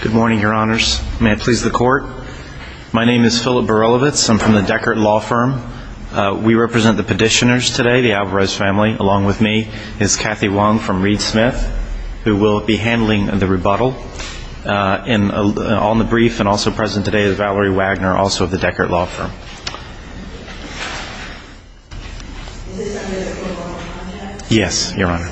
Good morning, your honors. May I please the court? My name is Philip Berilevitz. I'm from the Alvarez family. Along with me is Kathy Wong from Reed Smith, who will be handling the rebuttal. On the brief and also present today is Valerie Wagner, also of the Deckert Law Firm. Yes, your honor.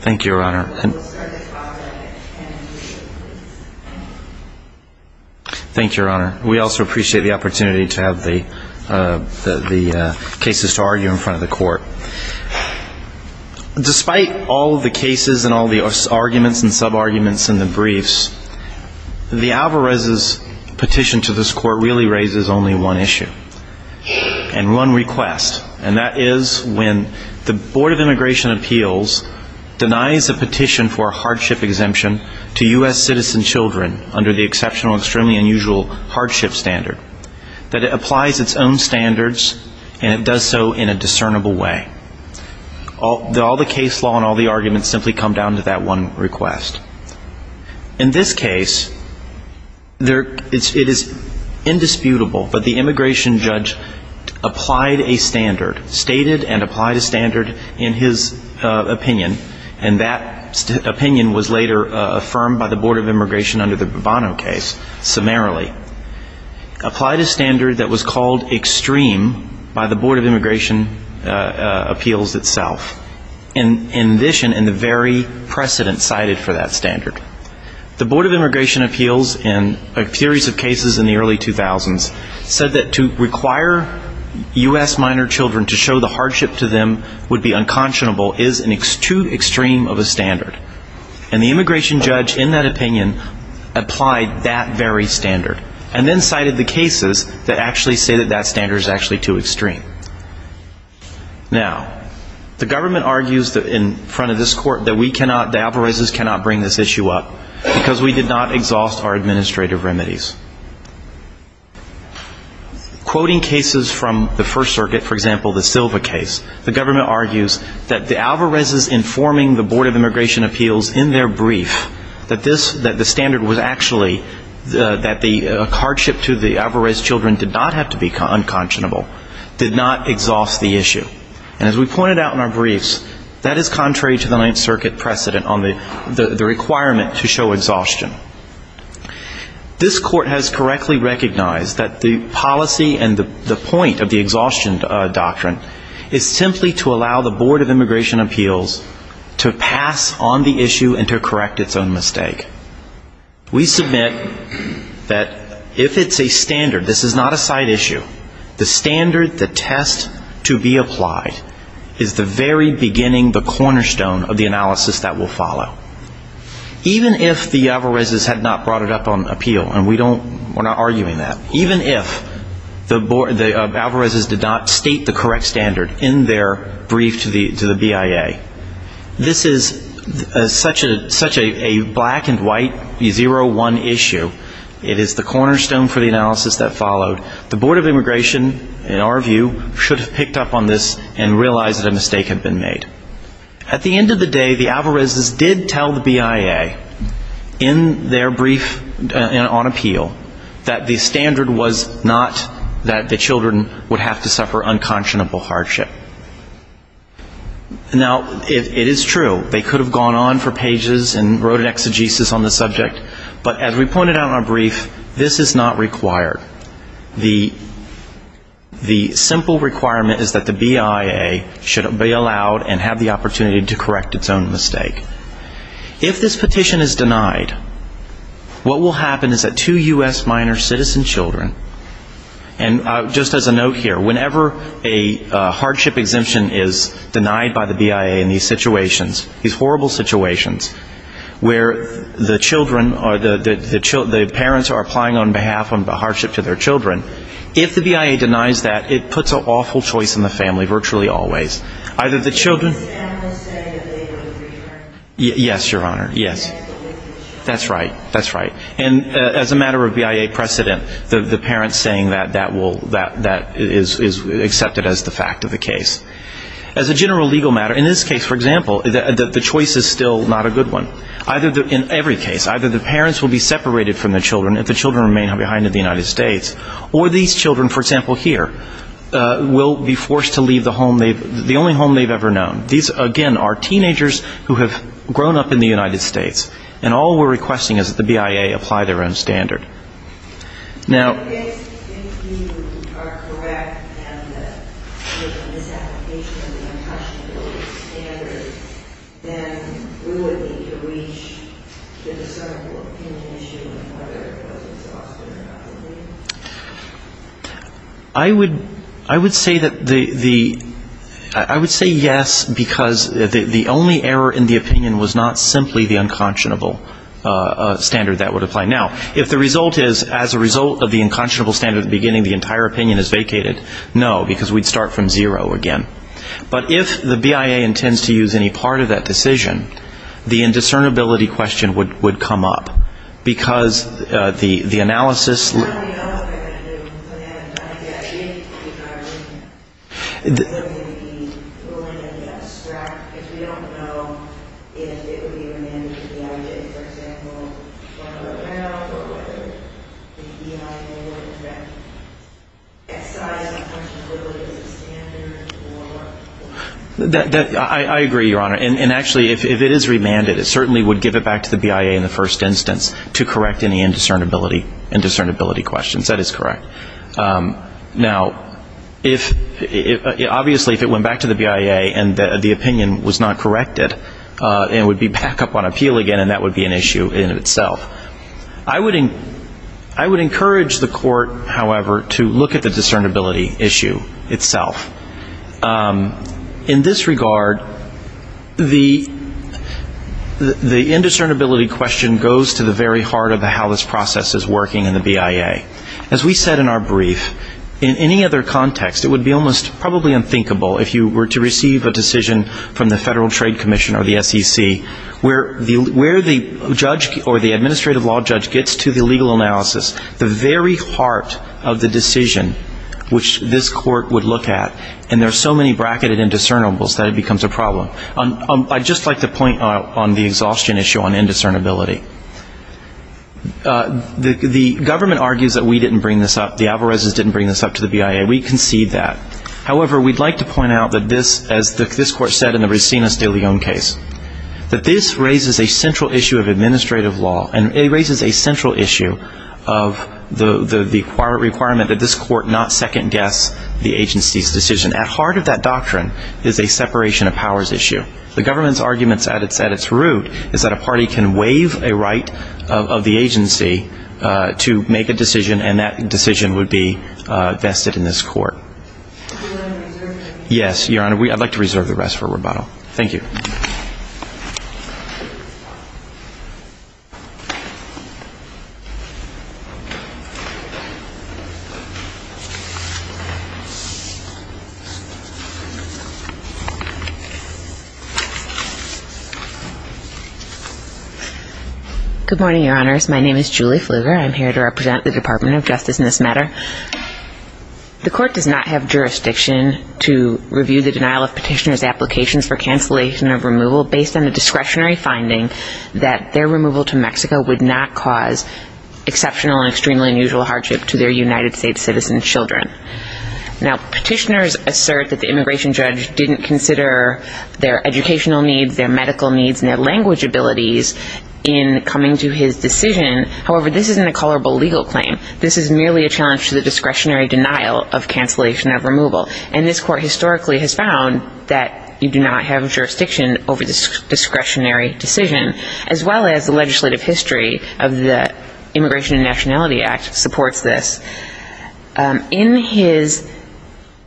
Thank you, your honor. Thank you, your honor. We also appreciate the opportunity to have the cases to argue in front of the court. Despite all the cases and all the arguments and sub-arguments in the briefs, the Alvarez's petition to this court really raises only one issue. And one request. And that is when the Board of Immigration Appeals denies a petition for a hardship exemption to U.S. citizen children under the exceptional, extremely unusual hardship standard. That it applies its own standards and it does so in a discernible way. All the case law and all the arguments simply come down to that one request. In this case, it is indisputable, but the immigration judge applied a standard, stated and applied a standard in his opinion. And that opinion was later affirmed by the Board of Immigration under the Bovano case summarily. Applied a standard that was called cited for that standard. The Board of Immigration Appeals in a series of cases in the early 2000s said that to require U.S. minor children to show the hardship to them would be unconscionable is too extreme of a standard. And the immigration judge in that opinion applied that very standard. And then they say that that standard is actually too extreme. Now, the government argues in front of this court that we cannot, the Alvarez's cannot bring this issue up because we did not exhaust our administrative remedies. Quoting cases from the First Circuit, for example, the Silva case, the government argues that the Alvarez's informing the Board of Immigration Appeals in their brief that this, that the standard was actually, that the hardship to the Alvarez's children did not have to be unconscionable, did not exhaust the issue. And as we pointed out in our briefs, that is contrary to the Ninth Circuit precedent on the requirement to show exhaustion. This court has correctly recognized that the policy and the point of the exhaustion doctrine is simply to allow the Board of Immigration Appeals to pass on the issue and to correct its own mistake. We submit that if it's a standard, this is not a side issue, the standard, the test to be applied is the very beginning, the cornerstone of the analysis that will follow. Even if the Alvarez's had not brought it up on appeal, and we don't, we're not arguing that, even if the Alvarez's did not state the correct standard in their brief to the BIA, this is such a black-and-white, zero-one issue, it is the cornerstone for the analysis that followed. The Board of Immigration, in our view, should have picked up on this and realized that a mistake had been made. At the end of the day, the Alvarez's did tell the court that it was a mistake, and that they should have gone on for pages and wrote an exegesis on the subject, but as we pointed out in our brief, this is not required. The simple requirement is that the BIA should be allowed and have the opportunity to correct its own mistake. If this petition is denied, what will happen? The hardship exemption is denied by the BIA in these situations, these horrible situations, where the children, the parents are applying on behalf of the hardship to their children. If the BIA denies that, it puts an awful choice in the family, virtually always. Either the children Yes, Your Honor. Yes. That's right. That's right. And as a matter of BIA precedent, the parents saying that is accepted as the fact of the matter. As a general legal matter, in this case, for example, the choice is still not a good one. In every case, either the parents will be separated from the children if the children remain behind in the United States, or these children, for example, here, will be forced to leave the only home they've ever known. These, again, are teenagers who have grown up in the United States, and all we're requesting is that the BIA apply their own standard. Now If you are correct in the misapplication of the unconscionable standard, then will it be to reach the discernible opinion issue of whether it was exhaustive or not? I would say yes, because the only error in the opinion was not simply the unconscionable standard that would apply. Now, if the result is, as a result of the unconscionable standard at the beginning, the entire opinion is vacated, no, because we'd start from zero again. But if the BIA intends to use any part of that decision, the indiscernibility question would come up, because the analysis of the BIA would be a question of whether the BIA would be willing to abstract, because we don't know if it would be remanded to the BIA, for example, whether the BIA would correct the excise of unconscionability as a standard or not. I agree, Your Honor, and actually if it is remanded, it certainly would give it back to the BIA in the first instance to correct any indiscernibility. That is correct. Now, obviously if it went back to the BIA and the opinion was not corrected, it would be back up on appeal again, and that would be an issue in itself. I would encourage the court, however, to look at the discernibility issue itself. In this regard, the indiscernibility question goes to the very heart of how this process is working in the BIA. As we said in our brief, in any other context, it would be almost probably unthinkable if you were to receive a decision from the Federal Trade Commission or the SEC, where the judge or the administrative law judge gets to the legal analysis, the very heart of the decision which this court would look at, and there are so many bracketed indiscernibles that it becomes a problem. I'd just like to point on the exhaustion issue on indiscernibility. The government argues that we didn't bring this up. The Alvarezes didn't bring this up to the BIA. We concede that. However, we'd like to point out that this, as this court said in the Resinas de Leon case, that this raises a central issue of administrative law, and it raises a central issue of the requirement that this court not second-guess the agency's decision. At heart of that doctrine is a separation of powers issue. The government's argument at its root is that a party can waive a right of the agency to make a decision, and that decision would be vested in this court. Yes, Your Honor, I'd like to reserve the rest for rebuttal. Thank you. Good morning, Your Honors. My name is Julie Fluger. I'm here to represent the Department of Justice in this matter. The court does not have jurisdiction to review the discretionary finding that their removal to Mexico would not cause exceptional and extremely unusual hardship to their United States citizen children. Now, petitioners assert that the immigration judge didn't consider their educational needs, their medical needs, and their language abilities in coming to his decision. However, this isn't a colorable legal claim. This is merely a challenge to the discretionary denial of cancellation of removal. And this court historically has found that you do not have jurisdiction over this discretionary decision, as well as the legislative history of the Immigration and Nationality Act supports this. In his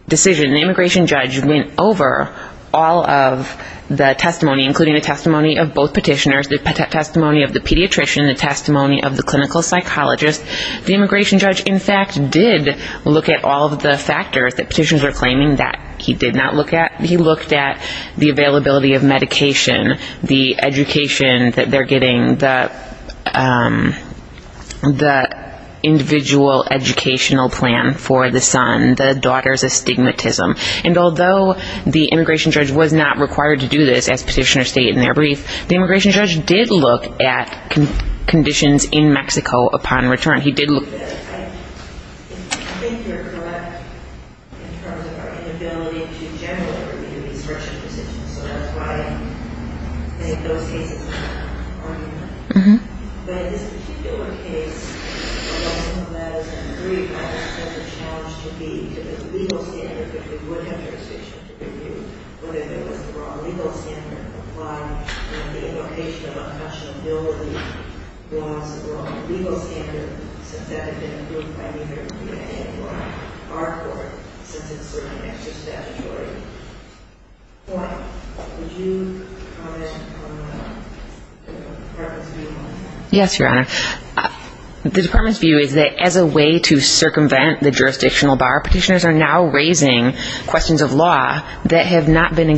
decision, the immigration judge went over all of the testimony, including the testimony of both petitioners, the testimony of the pediatrician, the testimony of the clinical psychologist. The immigration judge, in fact, did look at all of the factors that petitioners are claiming that he did not look at. He looked at the availability of medication, the education that they're getting, the individual educational plan for the son, the daughter's astigmatism. And although the immigration judge was not required to do this, as petitioners state in their brief, the immigration judge did look at conditions in Mexico upon return. He did look at an negotiation, and in this case, he did look at the choices that are going to be made for governance decisions. policy. I think you're correct in terms of our enemity. So that's why, I think those cases are urban, but this particular case prepares a challenge for the legal standard because we wouldn't have jurisdiction. I think the investigation should be reviewed, wait to go through our legal stand and apply and then the invocation of Fools Bill was wrong legal standard since that had been approved by neither the EPA nor our court since it's certainly extra statutory. Laura, would you comment on the Department's view on that? Yes, Your Honor. The Department's view is that as a way to circumvent the jurisdictional bar, petitioners are now raising questions of law that have not been raised.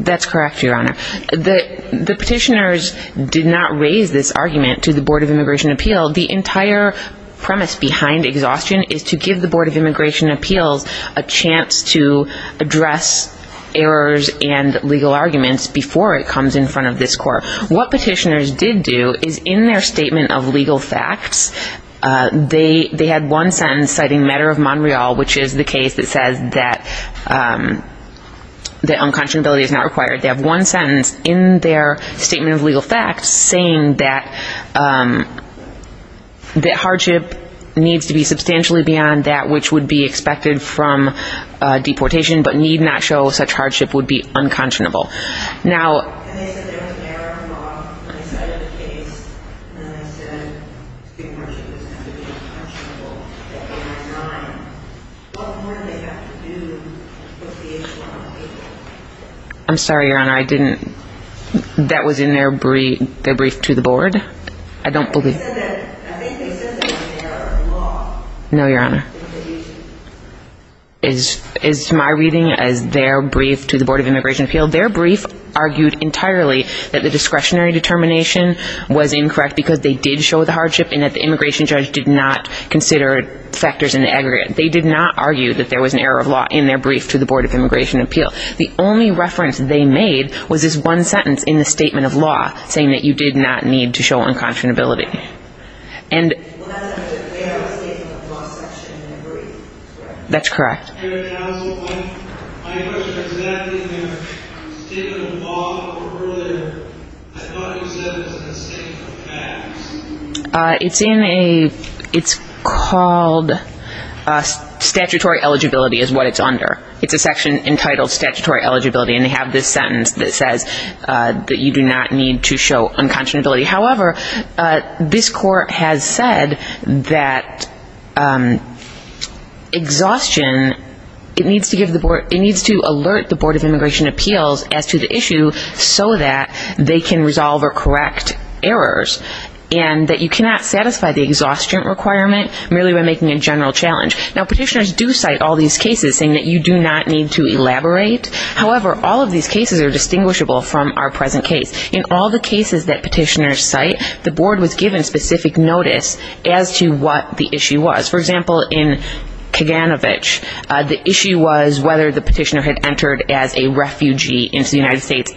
That's correct, Your Honor. The petitioners did not raise this argument to the Board of Immigration Appeal. The entire premise behind exhaustion is to give the Board of Immigration Appeals a chance to address errors and legal arguments before it comes in front of this court. What petitioners did do is in their statement of legal facts, they had one sentence citing matter of Montreal, which is the case that says that unconscionability is not required. They have one sentence in their statement of legal facts saying that hardship needs to be substantially beyond that which would be expected from deportation but need not show such hardship would be unconscionable. I'm sorry, Your Honor. That was in their brief to the Board? I don't believe it. No, Your Honor. Is my reading as their brief to the Board of Immigration Appeal correct? That's correct. Your Honor, that was my question exactly in their statement of law earlier. I thought it was in their brief to the Board of Immigration Appeals. It's in a, it's called statutory eligibility is what it's under. It's a section entitled statutory eligibility and they have this sentence that says that you do not need to show unconscionability. However, this court has said that exhaustion, it needs to give the Board, it needs to alert the Board of Immigration Appeals as to the issue so that they can resolve or correct errors and that you cannot satisfy the exhaustion requirement merely by making a general challenge. Now, petitioners do cite all these cases saying that you do not need to elaborate. However, all of these cases are distinguishable from our present case. In all the cases that petitioners cite, the Board was given specific notice as to what the issue was. For example, in Kaganovich, the issue was whether the petitioner had entered as a refugee into the United States.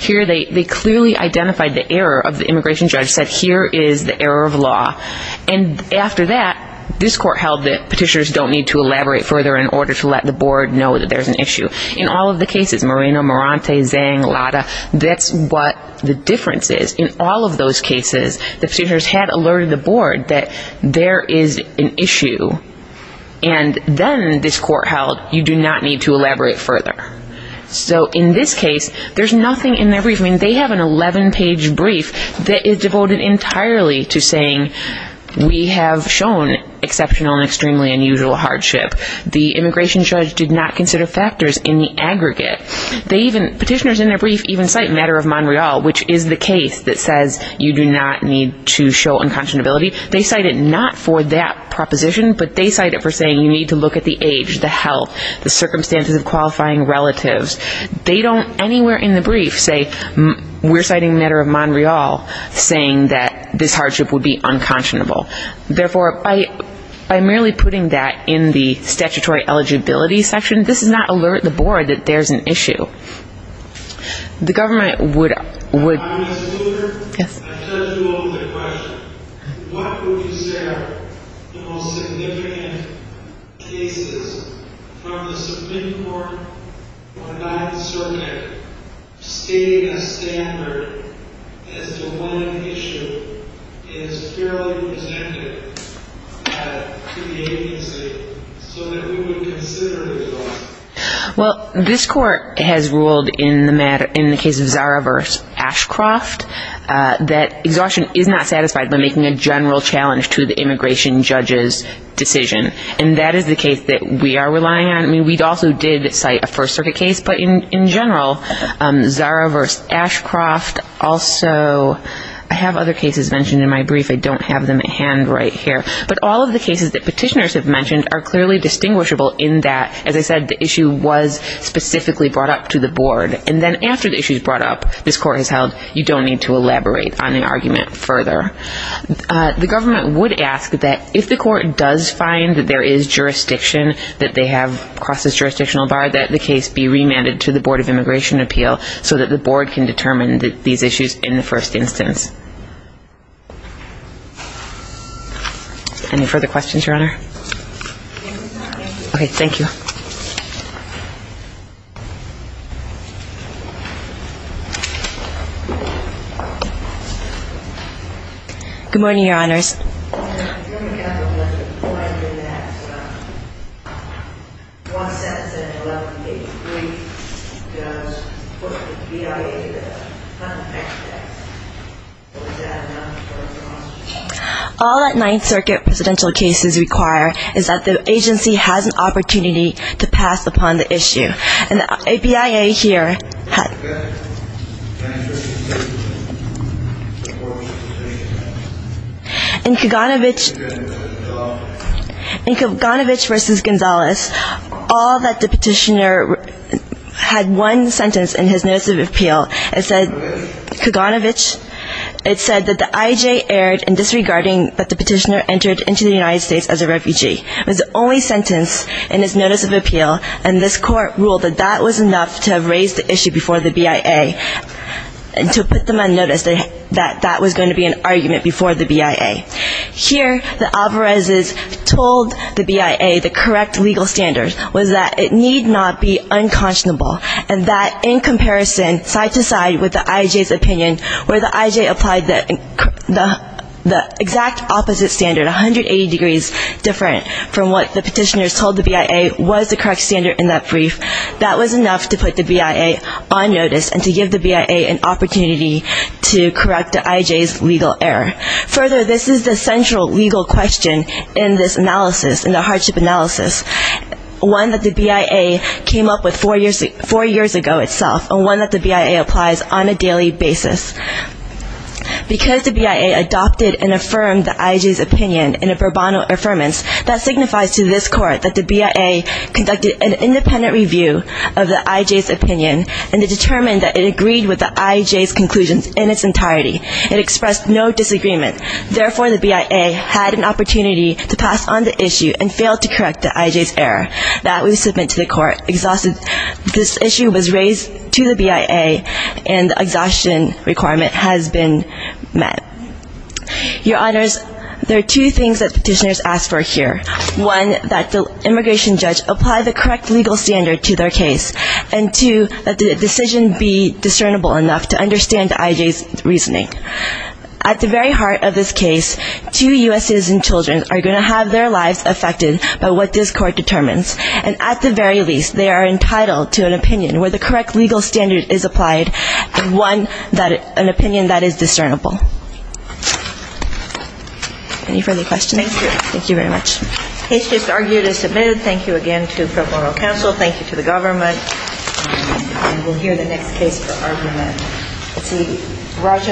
Here, they clearly identified the error of the immigration judge, said here is the error of law. And after that, this court held that petitioners don't need to elaborate further in order to let the Board know that there's an issue. In all of the cases, Moreno, Morante, Zhang, Lada, that's what the difference is. In all of those cases, the Board was given specific notice as to what the issue was. And after that, this court held that you do not need to elaborate further. So in this case, there's nothing in their brief. I mean, they have an 11-page brief that is devoted entirely to saying we have shown exceptional and extremely unusual hardship. The immigration judge did not consider factors in the aggregate. They even, petitioners in their brief even cite Matter of Montreal, which is the case that says you do not need to show unconscionability. They cite it not for that proposition, but they cite it for saying you need to look at the age, the health, the circumstances of qualifying relatives. They don't anywhere in the brief say we're citing Matter of Montreal, saying that this hardship would be unconscionable. Therefore, by merely putting that in the statutory eligibility section, this does not alert the Board that there's an issue. The government would. MS. LUTHER, I've touched you over the question. What would you say are the most significant cases from the Supreme Court or the Ninth Circuit stating a standard as to when an issue is fairly presented to the agency so that we would consider it? MS. LUTHER, Well, this Court has ruled in the case of Zara v. Ashcroft that exhaustion is not satisfied by making a general challenge to the immigration judge's decision. And that is the case that we are relying on. I mean, we also did cite a First Circuit case, but in general, Zara v. Ashcroft, also, I have other cases mentioned in my brief. I don't have them at hand right here. But all of the cases that petitioners have mentioned are clearly distinguishable in that, as I said, the issue was specifically brought up to the Board. And then after the issue is brought up, this Court has held you don't need to elaborate on the argument further. The government would ask that if the Court does find that there is jurisdiction that they have across this jurisdictional bar, that the case be remanded to the Board of Immigration Appeal so that the Board can determine these issues in the first instance. Any further questions, Your Honor? Okay. Thank you. MS. LUTHER, Good morning, Your Honors. All that Ninth Circuit residential cases require is that the agency has an opportunity to pass a ruling that is not passed upon the issue. And the APIA here had... In Kaganovich... In Kaganovich v. Gonzalez, all that the petitioner had one sentence in his Notice of Appeal, it said, Kaganovich, it said that the IJ erred in disregarding that the petitioner entered into the United States as a refugee. It was the only sentence in his Notice of Appeal and this Court ruled that that was enough to have raised the issue before the BIA and to have put them on notice that that was going to be an argument before the BIA. Here, the Alvarez's told the BIA the correct legal standard was that it need not be unconscionable and that in comparison, side to side with the IJ's opinion, where the IJ applied the exact opposite standard, 180 degrees different from what the petitioners told the BIA was the correct standard, in that brief, that was enough to put the BIA on notice and to give the BIA an opportunity to correct the IJ's legal error. Further, this is the central legal question in this analysis, in the Hardship Analysis, one that the BIA came up with four years ago itself, and one that the BIA applies on a daily basis. Because the BIA adopted and affirmed the IJ's opinion in a pro bono affirmance, that signifies to this Court that the BIA conducted an independent review of the IJ's opinion and it determined that it agreed with the IJ's conclusions in its entirety. It expressed no disagreement. Therefore, the BIA had an opportunity to pass on the issue and failed to correct the IJ's error. That was submitted to the Court. This issue was raised to the BIA and the exhaustion requirement has been met. Your Honors, there are two things that petitioners ask for here. One, that the immigration judge apply the correct legal standard to their case. And two, that the decision be discernible enough to understand the IJ's reasoning. At the very heart of this case, two U.S. citizen children are going to have their lives affected by what this Court determines. And at the very least, they are entitled to an opinion where the correct legal standard is applied, and one, an opinion that is discernible. Any further questions? Thank you very much.